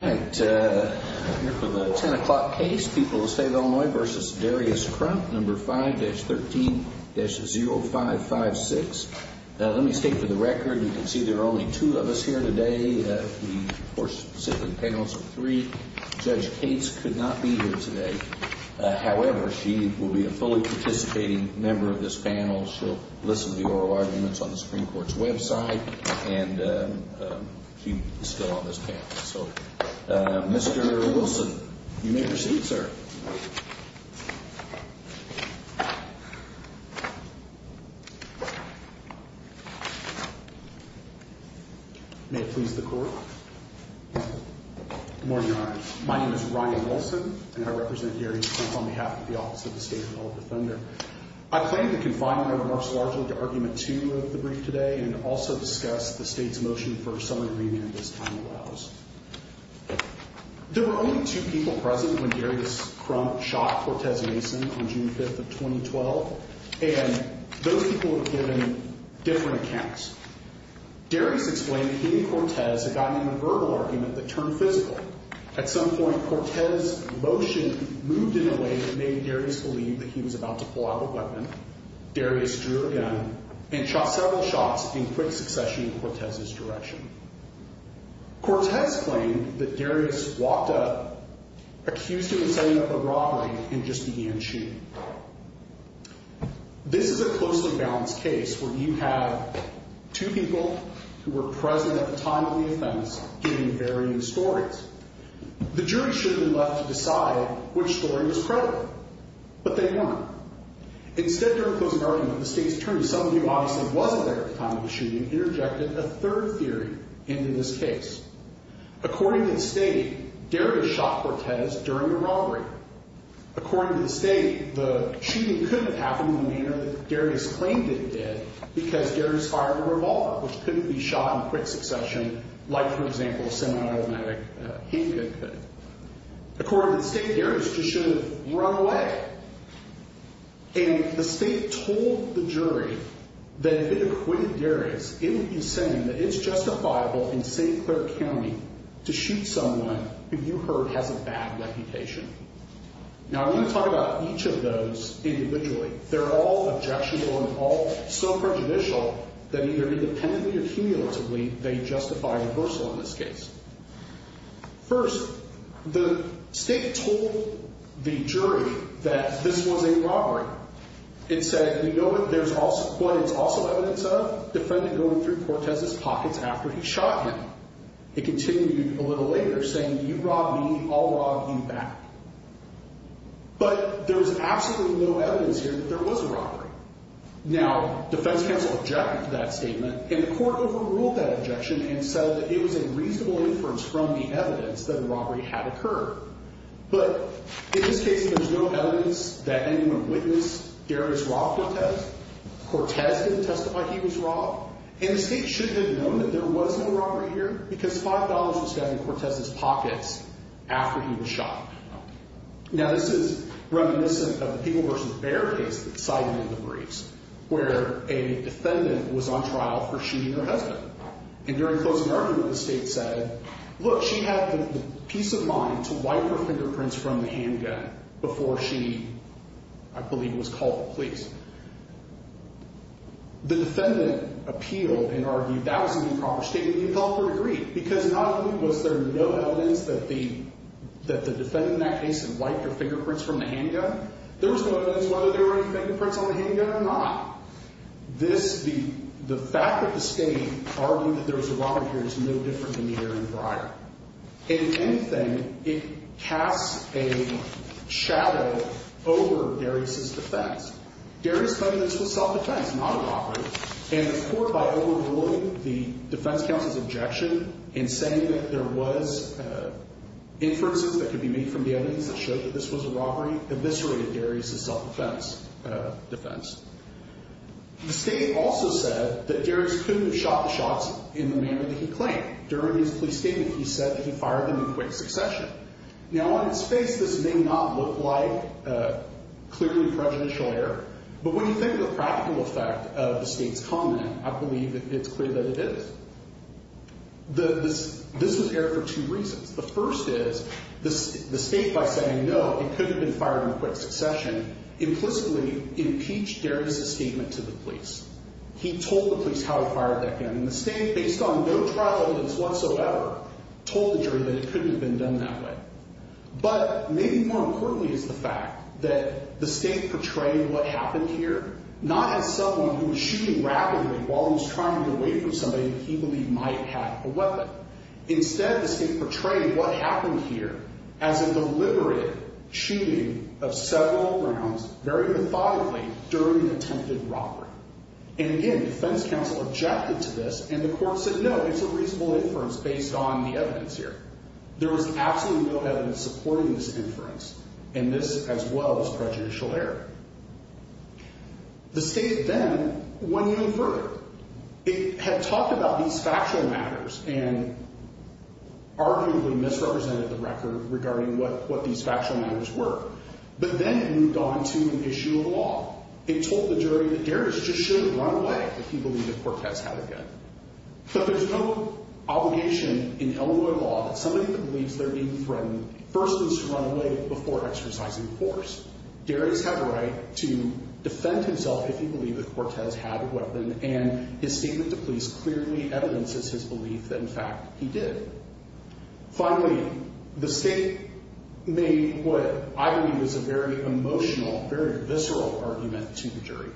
I'm here for the 10 o'clock case, People of the State of Illinois v. Darius Crump, No. 5-13-0556. Let me state for the record, you can see there are only two of us here today. We, of course, sit in panels of three. Judge Cates could not be here today. However, she will be a fully participating member of this panel. She'll listen to the oral arguments on the Supreme Court's website. And he is still on this panel. So, Mr. Wilson, you may proceed, sir. May it please the Court. Good morning, Your Honor. My name is Ryan Wilson, and I represent Darius Crump on behalf of the Office of the State of Illinois. I plan to confine my remarks largely to Argument 2 of the brief today and also discuss the State's motion for a summary agreement as time allows. There were only two people present when Darius Crump shot Cortez Mason on June 5th of 2012. And those people were given different accounts. Darius explained that he and Cortez had gotten into a verbal argument that turned physical. At some point, Cortez's motion moved in a way that made Darius believe that he was about to pull out a weapon. Darius drew a gun and shot several shots in quick succession in Cortez's direction. Cortez claimed that Darius walked up, accused him of setting up a robbery, and just began shooting. This is a closely balanced case where you have two people who were present at the time of the offense giving varying stories. The jury should have been left to decide which story was credible, but they weren't. Instead, during the closing argument, the State's attorney, someone who obviously wasn't there at the time of the shooting, interjected a third theory into this case. According to the State, Darius shot Cortez during the robbery. According to the State, the shooting couldn't have happened in the manner that Darius claimed it did because Darius fired a revolver, which couldn't be shot in quick succession like, for example, a semi-automatic handgun could. According to the State, Darius just should have run away. And the State told the jury that if it acquitted Darius, it would be saying that it's justifiable in St. Clair County to shoot someone who you heard has a bad reputation. Now, I'm going to talk about each of those individually. They're all objectionable and all so prejudicial that either independently or cumulatively, they justify reversal in this case. First, the State told the jury that this was a robbery. It said, you know what it's also evidence of? Defendant going through Cortez's pockets after he shot him. It continued a little later saying, you robbed me, I'll rob you back. But there's absolutely no evidence here that there was a robbery. Now, defense counsel objected to that statement and the court overruled that objection and said that it was a reasonable inference from the evidence that a robbery had occurred. But in this case, there's no evidence that anyone witnessed Darius rob Cortez. Cortez didn't testify he was robbed and the State shouldn't have known that there was no robbery here because $5 was found in Cortez's pockets after he was shot. Now, this is reminiscent of the Peeble v. Bear case that cited in the briefs where a defendant was on trial for shooting her husband. And during closing argument, the State said, look, she had the peace of mind to wipe her fingerprints from the handgun before she, I believe, was called to police. The defendant appealed and argued that was an improper statement and he thought that he agreed because not only was there no evidence that the defendant in that case had wiped her fingerprints from the handgun, there was no evidence whether there were any fingerprints on the handgun or not. This, the fact that the State argued that there was a robbery here is no different than neither in Briar. In anything, it casts a shadow over Darius's defense. Darius claimed this was self-defense, not a robbery, and the court, by overruling the defense counsel's objection in saying that there was inferences that could be made from the evidence that showed that this was a robbery, eviscerated Darius's self-defense defense. The State also said that Darius couldn't have shot the shots in the manner that he claimed. During his police statement, he said that he fired them in quick succession. Now, on its face, this may not look like clearly prejudicial error, but when you think of the practical effect of the State's comment, I believe that it's clear that it is. This was errored for two reasons. The first is the State, by saying no, it could have been fired in quick succession, He told the police how he fired that gun, and the State, based on no trial evidence whatsoever, told the jury that it couldn't have been done that way. But maybe more importantly is the fact that the State portrayed what happened here not as someone who was shooting rapidly while he was trying to get away from somebody he believed might have a weapon. Instead, the State portrayed what happened here as a deliberate shooting of several rounds, very methodically, during an attempted robbery. And again, defense counsel objected to this, and the court said no, it's a reasonable inference based on the evidence here. There was absolutely no evidence supporting this inference, and this, as well, is prejudicial error. The State then went even further. It had talked about these factual matters and arguably misrepresented the record regarding what these factual matters were. But then it moved on to an issue of law. It told the jury that Darius just shouldn't run away if he believed that Cortez had a gun. But there's no obligation in Illinois law that somebody that believes they're being threatened first needs to run away before exercising force. Darius had a right to defend himself if he believed that Cortez had a weapon, and his statement to police clearly evidences his belief that, in fact, he did. Finally, the State made what I believe is a very emotional, very visceral argument to the jury,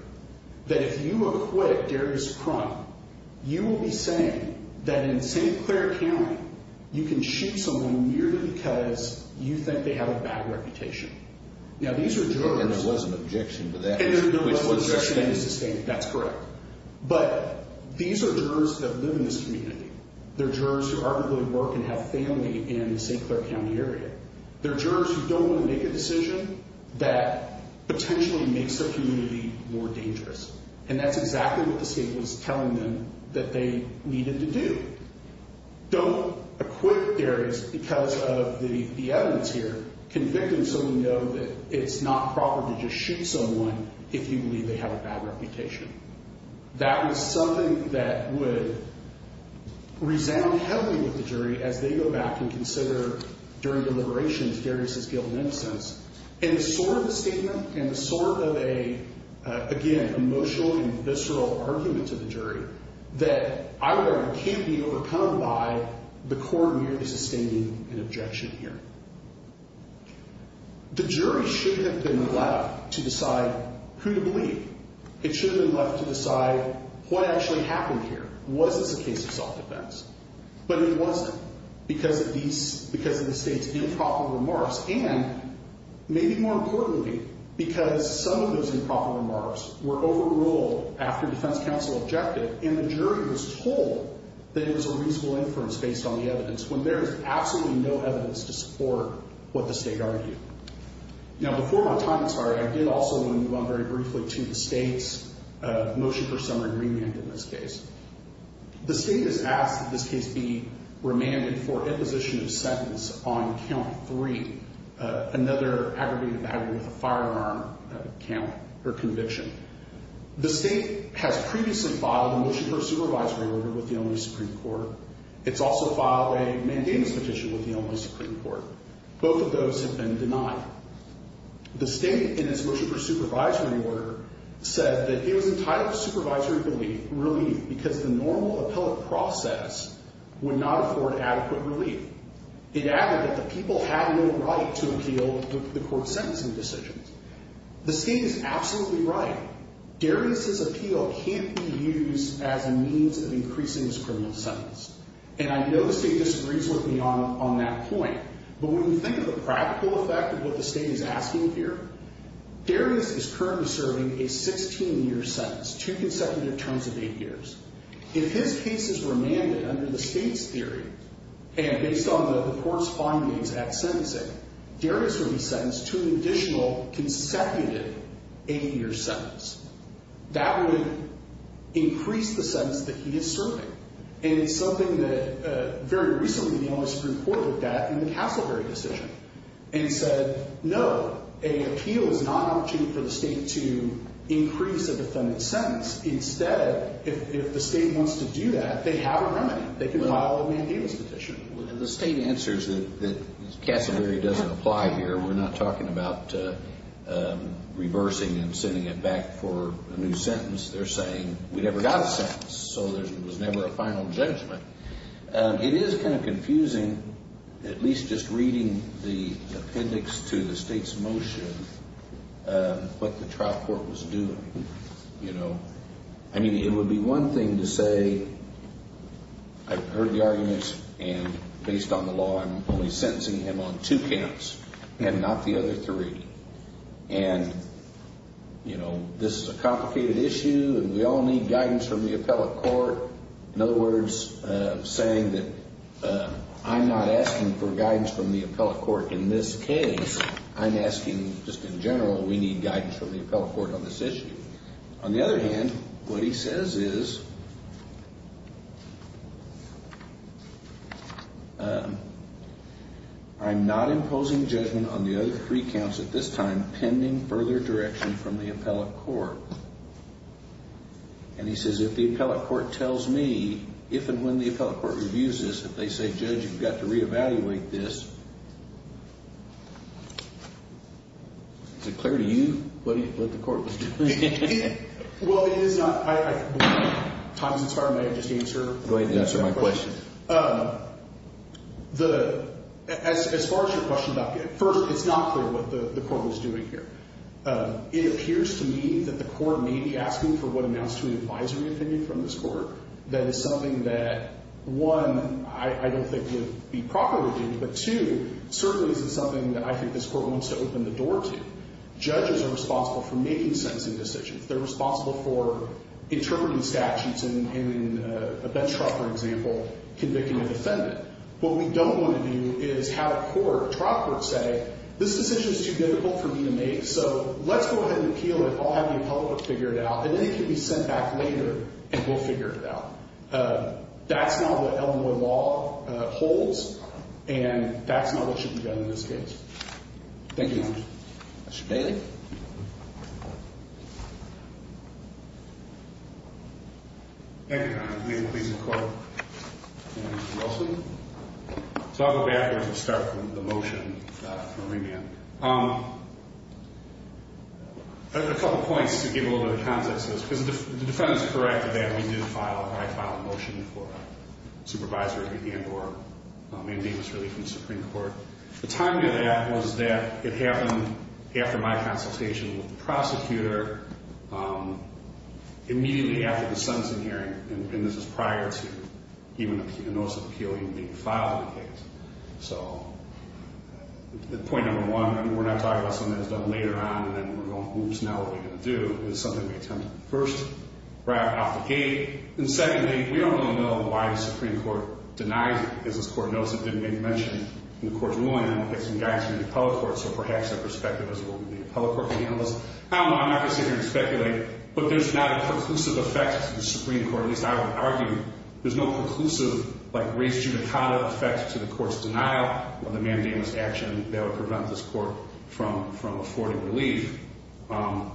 that if you acquit Darius Crump, you will be saying that in St. Clair County, you can shoot someone merely because you think they have a bad reputation. Now, these are jurors. And there was an objection to that. And there was an objection to sustaining. That's correct. But these are jurors that live in this community. They're jurors who arguably work and have family in the St. Clair County area. They're jurors who don't want to make a decision that potentially makes their community more dangerous. And that's exactly what the State was telling them that they needed to do. Don't acquit Darius because of the evidence here, convicting so we know that it's not proper to just shoot someone if you believe they have a bad reputation. That was something that would resound heavily with the jury as they go back and consider, during deliberations, Darius' guilt and innocence. And it's sort of a statement and a sort of a, again, emotional and visceral argument to the jury that either can't be overcome by the court merely sustaining an objection here. The jury should have been allowed to decide who to believe. It should have been left to decide what actually happened here. Was this a case of soft defense? But it wasn't because of the State's improper remarks and, maybe more importantly, because some of those improper remarks were overruled after defense counsel objected and the jury was told that it was a reasonable inference based on the evidence when there is absolutely no evidence to support what the State argued. Now, before my time expires, I did also want to move on very briefly to the State's motion for summary remand in this case. The State has asked that this case be remanded for imposition of sentence on count three, another aggravated battery with a firearm count or conviction. The State has previously filed a motion for a supervisory order with the Illinois Supreme Court. It's also filed a mandamus petition with the Illinois Supreme Court. Both of those have been denied. The State, in its motion for supervisory order, said that it was entitled to supervisory relief because the normal appellate process would not afford adequate relief. It added that the people had no right to appeal the court's sentencing decisions. The State is absolutely right. Darius's appeal can't be used as a means of increasing his criminal sentence. And I know the State disagrees with me on that point, but when you think of the practical effect of what the State is asking here, Darius is currently serving a 16-year sentence, two consecutive terms of eight years. If his case is remanded under the State's theory, and based on the court's findings at sentencing, Darius would be sentenced to an additional consecutive eight-year sentence. That would increase the sentence that he is serving, and it's something that very recently the Illinois Supreme Court looked at in the Castleberry decision and said, no, an appeal is not an opportunity for the State to increase a defendant's sentence. Instead, if the State wants to do that, they have a remedy. They can file a mandamus petition. The State answers that Castleberry doesn't apply here. We're not talking about reversing and sending it back for a new sentence. They're saying we never got a sentence, so there was never a final judgment. It is kind of confusing, at least just reading the appendix to the State's motion, what the trial court was doing. I mean, it would be one thing to say, I've heard the arguments, and based on the law I'm only sentencing him on two counts and not the other three. And, you know, this is a complicated issue, and we all need guidance from the appellate court. In other words, saying that I'm not asking for guidance from the appellate court in this case. I'm asking just in general we need guidance from the appellate court on this issue. On the other hand, what he says is I'm not imposing judgment on the other three counts at this time pending further direction from the appellate court. And he says if the appellate court tells me if and when the appellate court reviews this, if they say, Judge, you've got to reevaluate this, is it clear to you what the court was doing? Well, it is not. Thompson, sorry, may I just answer? Go ahead and answer my question. As far as your question, first, it's not clear what the court was doing here. It appears to me that the court may be asking for what amounts to an advisory opinion from this court that is something that, one, I don't think would be properly reviewed, but two, certainly isn't something that I think this court wants to open the door to. Judges are responsible for making sentencing decisions. They're responsible for interpreting statutes in a bench trial, for example, convicting a defendant. What we don't want to do is have a court, a trial court, say this decision is too difficult for me to make, so let's go ahead and appeal it. I'll have the appellate court figure it out, and then it can be sent back later, and we'll figure it out. That's not what Elmwood Law holds, and that's not what should be done in this case. Thank you, Your Honor. Mr. Bailey? Thank you, Your Honor. May it please the Court? Mr. Nelson? So I'll go back and start with the motion for remand. A couple points to give a little bit of context to this, because the defendant's correct that I did file a motion for supervisory and or mandamus relief in the Supreme Court. The timing of that was that it happened after my consultation with the prosecutor, immediately after the sentencing hearing, and this is prior to even a notice of appeal even being filed in the case. So point number one, we're not talking about something that's done later on, and we're going, oops, now what are we going to do? It was something we attempted first, right off the gate. And secondly, we don't really know why the Supreme Court denies it, because this Court notes it didn't make mention in the Court's ruling, and it gets some guidance from the appellate court, so perhaps that perspective is what we need the appellate court to handle this. I don't know. I'm not going to sit here and speculate. But there's not a conclusive effect to the Supreme Court, at least I would argue. There's no conclusive, like, race judicata effect to the Court's denial of the mandamus action that would prevent this Court from affording relief. I'm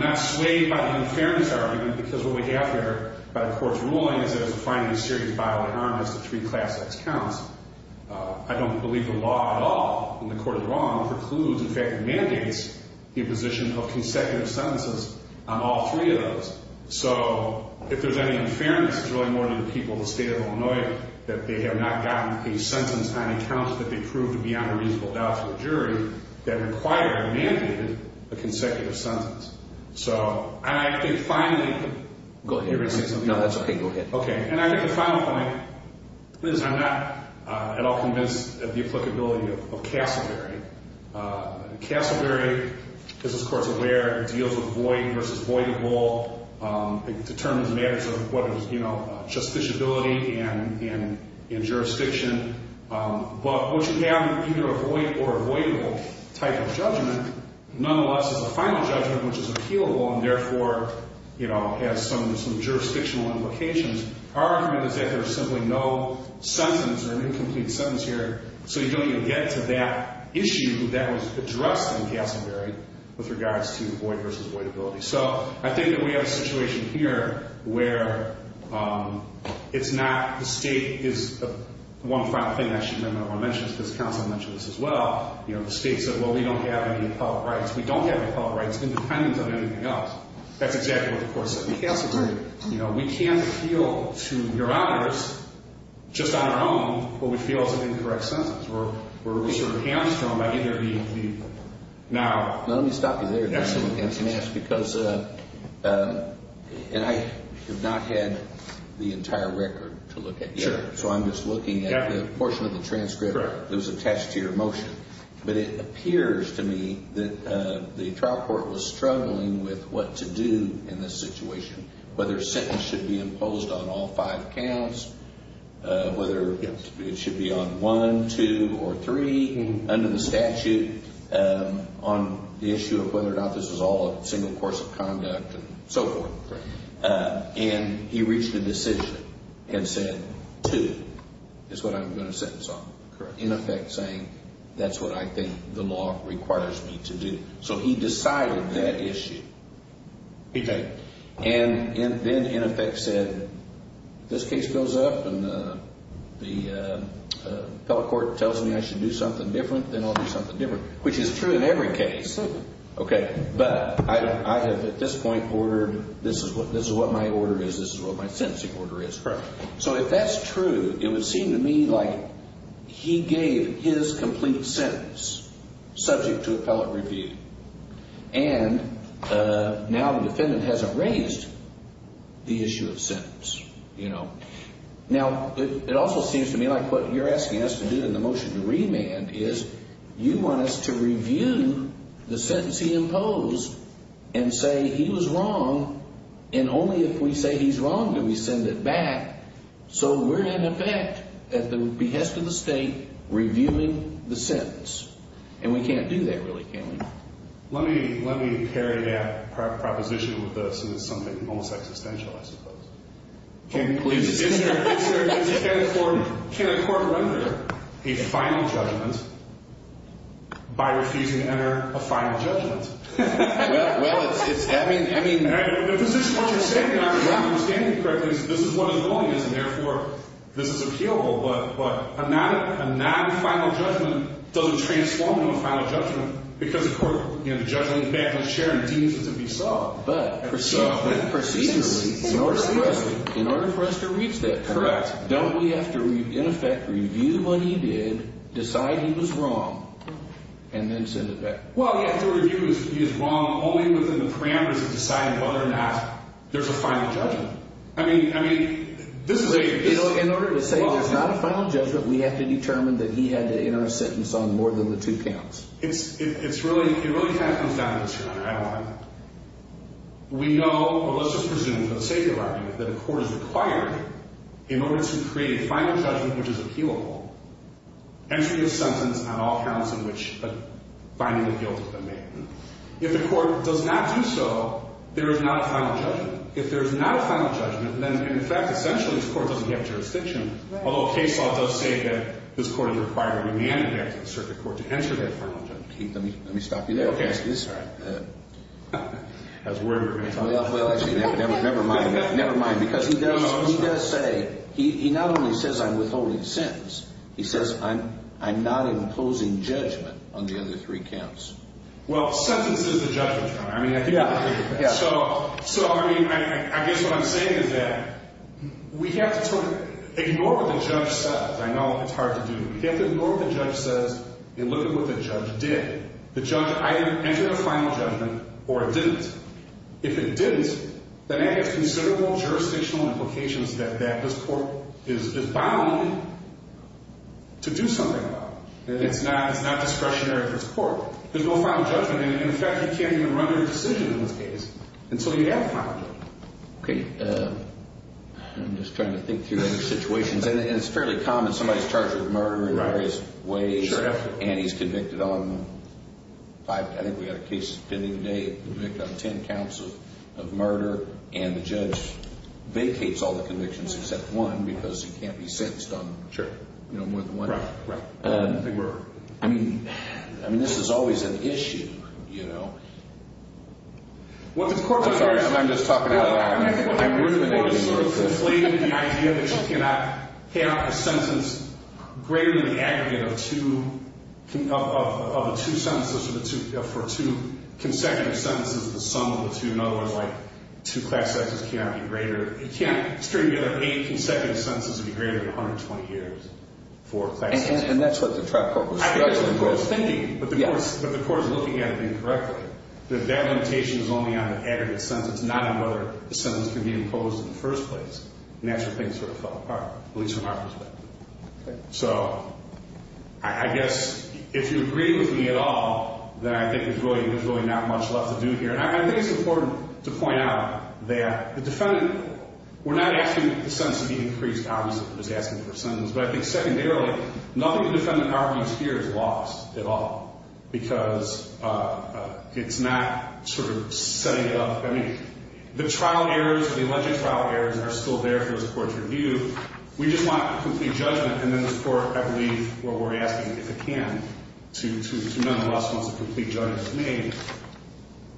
not swayed by the unfairness argument, because what we have here, by the Court's ruling, is that it's a fine and serious bodily harm as to three class X counts. I don't believe the law at all, in the Court of the Law, precludes, in fact, mandates, the imposition of consecutive sentences on all three of those. So if there's any unfairness, it's really more to the people of the state of Illinois that they have not gotten a sentence on accounts that they proved beyond a reasonable doubt to the jury that required or mandated a consecutive sentence. So, and I think finally— Go ahead. No, that's okay. Go ahead. Okay. And I think the final point— Liz, I'm not at all convinced of the applicability of Casselberry. Casselberry, as this Court's aware, deals with void versus voidable. It determines matters of what is, you know, justiciability and jurisdiction. But what you have, either a void or a voidable type of judgment, nonetheless, is a final judgment, which is appealable, and therefore, you know, has some jurisdictional implications. Our argument is that there's simply no sentence or an incomplete sentence here, so you don't even get to that issue that was addressed in Casselberry with regards to void versus voidability. So I think that we have a situation here where it's not— the state is—one final thing I should mention, because counsel mentioned this as well, you know, the state said, well, we don't have any appellate rights. We don't have appellate rights independent of anything else. That's exactly what the Court said. Casselberry. You know, we can't appeal to your honors just on our own what we feel is an incorrect sentence. We're sort of hamstrung by either the—now— And I have not had the entire record to look at yet, so I'm just looking at the portion of the transcript that was attached to your motion. But it appears to me that the trial court was struggling with what to do in this situation, whether a sentence should be imposed on all five counts, whether it should be on one, two, or three under the statute, on the issue of whether or not this was all a single course of conduct and so forth. Correct. And he reached a decision and said, two is what I'm going to sentence on. Correct. In effect saying, that's what I think the law requires me to do. So he decided that issue. Okay. And then in effect said, if this case goes up and the appellate court tells me I should do something different, then I'll do something different, which is true in every case. Okay. But I have at this point ordered, this is what my order is, this is what my sentencing order is. Correct. So if that's true, it would seem to me like he gave his complete sentence subject to appellate review. And now the defendant hasn't raised the issue of sentence, you know. Now, it also seems to me like what you're asking us to do in the motion to remand is you want us to review the sentence he imposed and say he was wrong, and only if we say he's wrong do we send it back. So we're in effect, at the behest of the state, reviewing the sentence. And we can't do that, really, can we? Let me carry that proposition with us, and it's something almost existential, I suppose. Can a court render a final judgment by refusing to enter a final judgment? Well, it's, I mean. The position, what you're saying, and I don't understand you correctly, is this is what his point is, and therefore this is appealable, but a non-final judgment doesn't transform into a final judgment because the court, you know, the judge on the back of the chair deems it to be so. But procedurally, in order for us to reach that. Correct. Don't we have to, in effect, review what he did, decide he was wrong, and then send it back? Well, you have to review if he is wrong only within the parameters of deciding whether or not there's a final judgment. I mean, this is a... In order to say there's not a final judgment, we have to determine that he had to enter a sentence on more than the two counts. We know, or let's just presume for the sake of argument, that a court is required in order to create a final judgment, which is appealable, entry of sentence on all counts in which a finding of guilt has been made. If the court does not do so, there is not a final judgment. If there is not a final judgment, then in effect, essentially, this court doesn't have jurisdiction, although case law does say that this court is required to be handed back to the circuit court to enter that final judgment. Let me stop you there. Okay. Sorry. That was weird. Well, actually, never mind. Never mind, because he does say... No, no, I'm sorry. He does say... He not only says I'm withholding a sentence, he says I'm not imposing judgment on the other three counts. Well, sentence is the judgment term. I mean, I think... Yeah, yeah. So, I mean, I guess what I'm saying is that we have to sort of ignore what the judge says. I know it's hard to do. We have to ignore what the judge says and look at what the judge did. The judge either entered a final judgment or it didn't. If it didn't, then that has considerable jurisdictional implications that this court is bound to do something about it. It's not discretionary for this court. There's no final judgment. And, in fact, you can't even run a decision in this case until you have a final judgment. Okay. I'm just trying to think through other situations. And it's fairly common. Somebody's charged with murder in various ways. Sure. And he's convicted on five... I think we had a case pending today convicted on ten counts of murder. And the judge vacates all the convictions except one because he can't be sentenced on more than one. Right, right. I mean, this is always an issue, you know. I'm sorry. I'm just talking out loud. I'm really just sort of conflating the idea that you cannot have a sentence greater than the aggregate of two sentences for two consecutive sentences. The sum of the two... In other words, like two class sentences cannot be greater... It can't string together eight consecutive sentences to be greater than 120 years for a class sentence. And that's what the trial court was trying to do. But the court is looking at it incorrectly. That that limitation is only on the aggregate sentence, not on whether the sentence can be imposed in the first place. And that's where things sort of fell apart, at least from our perspective. Okay. So I guess if you agree with me at all, then I think there's really not much left to do here. And I think it's important to point out that the defendant... We're not asking the sentence to be increased, obviously. We're just asking for a sentence. But I think secondarily, nothing the defendant argues here is lost at all. Because it's not sort of setting up... I mean, the trial errors or the alleged trial errors are still there for the court to review. We just want complete judgment. And then the court, I believe, what we're asking if it can to none of us wants a complete judgment made.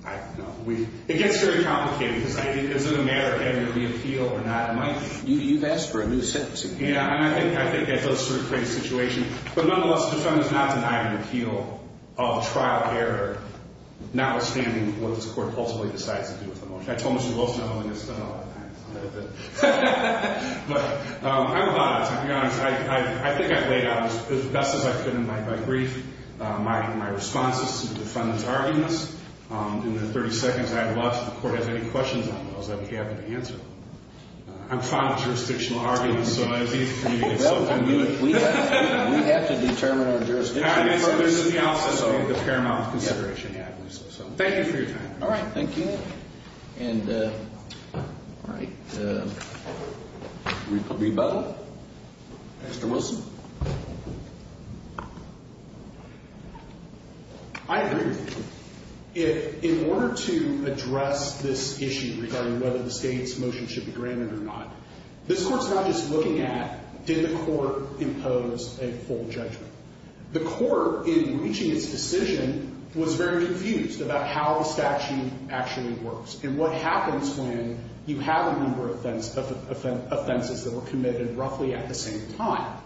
I don't know. It gets very complicated. Because is it a matter of having to re-appeal or not? You've asked for a new sentence again. Yeah. And I think that does sort of create a situation. But nonetheless, the defendant is not denying an appeal of a trial error, notwithstanding what this court ultimately decides to do with the motion. I told Mr. Wilson I don't think it's done a lot of times. But I'm glad, to be honest. I think I've laid out, as best as I could in my brief, my responses to the defendant's arguments. In the 30 seconds I have left, if the court has any questions on those, I'd be happy to answer them. I'm fine with jurisdictional arguments. So I'd be happy for you to get something to do with it. We have to determine our jurisdiction. I mean, there's the analysis of the paramount consideration. Yeah. Thank you for your time. All right. Thank you. And all right. Rebuttal. Mr. Wilson. I agree with you. In order to address this issue regarding whether the state's motion should be granted or not, this court's not just looking at did the court impose a full judgment. The court, in reaching its decision, was very confused about how the statute actually works and what happens when you have a number of offenses that were committed roughly at the same time.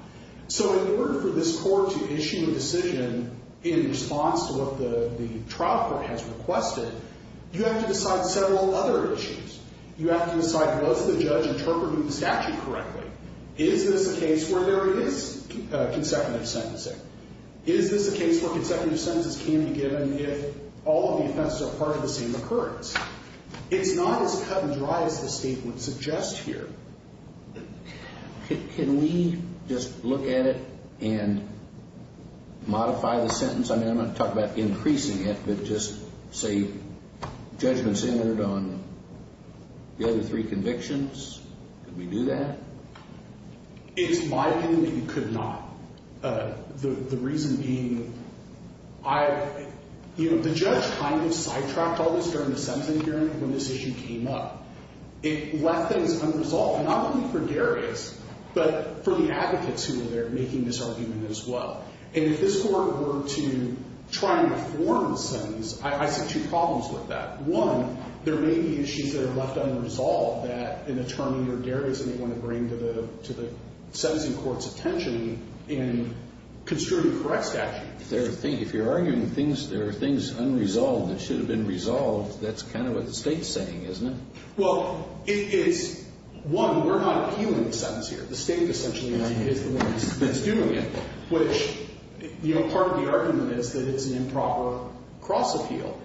So in order for this court to issue a decision in response to what the trial court has requested, you have to decide several other issues. You have to decide, was the judge interpreting the statute correctly? Is this a case where there is consecutive sentencing? Is this a case where consecutive sentences can be given if all of the offenses are part of the same occurrence? It's not as cut and dry as the state would suggest here. Can we just look at it and modify the sentence? I mean, I'm not talking about increasing it, but just say judgment centered on the other three convictions? Could we do that? It's my opinion that you could not. The reason being, you know, the judge kind of sidetracked all this during the sentencing hearing when this issue came up. It left things unresolved, not only for Darius, but for the advocates who were there making this argument as well. And if this court were to try and reform the sentence, I see two problems with that. One, there may be issues that are left unresolved that an attorney or Darius may want to bring to the sentencing court's attention in construing the correct statute. If you're arguing there are things unresolved that should have been resolved, that's kind of what the state's saying, isn't it? Well, it's, one, we're not appealing the sentence here. The state essentially is the one that's doing it, which, you know, part of the argument is that it's an improper cross-appeal.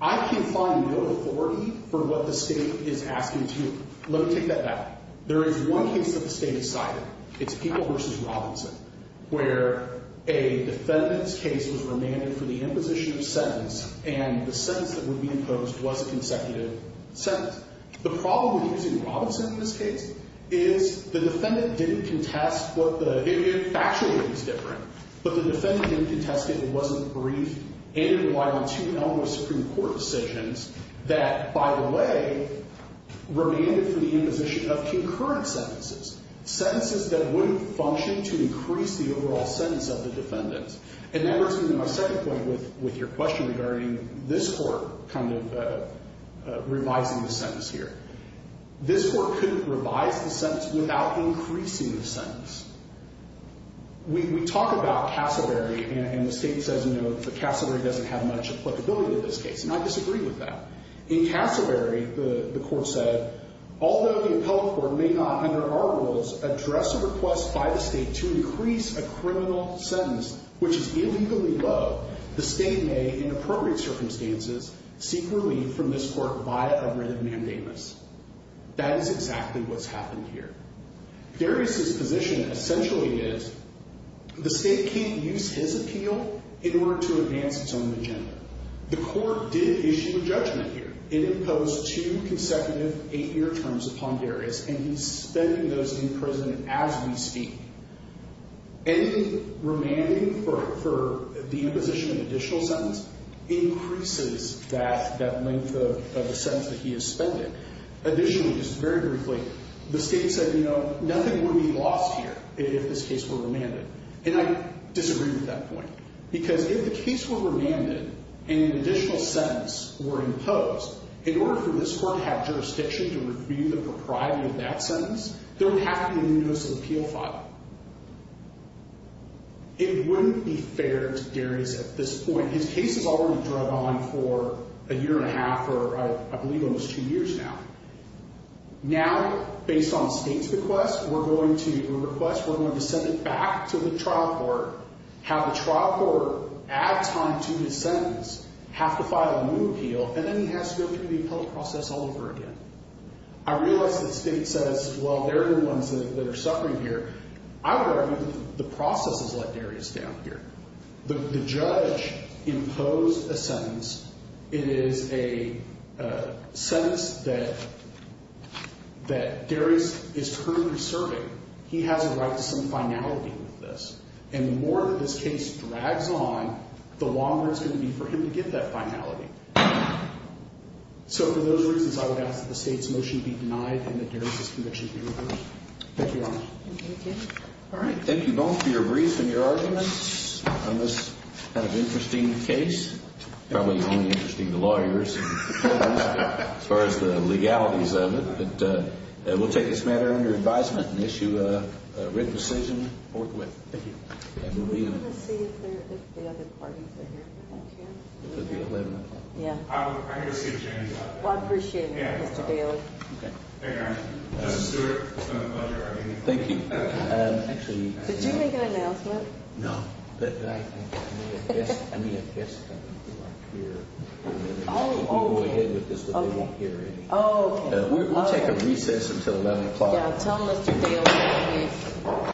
I can find no authority for what the state is asking to. Let me take that back. There is one case that the state has cited. It's Peeble v. Robinson, where a defendant's case was remanded for the imposition of sentence, and the sentence that would be imposed was a consecutive sentence. The problem with using Robinson in this case is the defendant didn't contest what the, it actually was different, but the defendant didn't contest it. It wasn't brief, and it relied on two numerous Supreme Court decisions that, by the way, remained for the imposition of concurrent sentences, sentences that wouldn't function to increase the overall sentence of the defendant. And that brings me to my second point with your question regarding this Court kind of revising the sentence here. This Court couldn't revise the sentence without increasing the sentence. We talk about Cassavary, and the state says, you know, Cassavary doesn't have much applicability in this case, and I disagree with that. In Cassavary, the Court said, although the appellate court may not, under our rules, address a request by the state to increase a criminal sentence which is illegally low, the state may, in appropriate circumstances, seek relief from this Court via a writ of mandamus. That is exactly what's happened here. Darius's position essentially is the state can't use his appeal in order to advance its own agenda. The Court did issue a judgment here. It imposed two consecutive eight-year terms upon Darius, and he's spending those in prison as we speak. Any remanding for the imposition of an additional sentence increases that length of the sentence that he is spending. Additionally, just very briefly, the state said, you know, nothing would be lost here if this case were remanded, and I disagree with that point. Because if the case were remanded and an additional sentence were imposed, in order for this Court to have jurisdiction to review the propriety of that sentence, there would have to be a new notice of appeal filed. It wouldn't be fair to Darius at this point. His case has already dragged on for a year and a half or, I believe, almost two years now. Now, based on the state's request, we're going to request we're going to send it back to the trial court, have the trial court add time to his sentence, have to file a new appeal, and then he has to go through the appellate process all over again. I realize that the state says, well, they're the ones that are suffering here. I would argue the process has let Darius down here. The judge imposed a sentence. It is a sentence that Darius is currently serving. He has a right to some finality with this. And the more that this case drags on, the longer it's going to be for him to get that finality. So for those reasons, I would ask that the state's motion be denied and that Darius' conviction be reversed. Thank you, Your Honor. All right. Thank you both for your brief and your arguments on this kind of interesting case. Probably only interesting to lawyers as far as the legalities of it. But we'll take this matter under advisement and issue a written decision forthwith. Thank you. We're going to see if the other parties are here. I'm going to see if Jamie's out there. Well, I appreciate it, Mr. Bailey. Thank you, Your Honor. Mr. Stewart, it's been a pleasure arguing with you. Thank you. Did you make an announcement? No. I mean, I guess they're not here. Oh, okay. We'll go ahead with this, but they won't hear anything. Oh, okay. We'll take a recess until 11 o'clock. Yeah, tell Mr. Bailey to leave.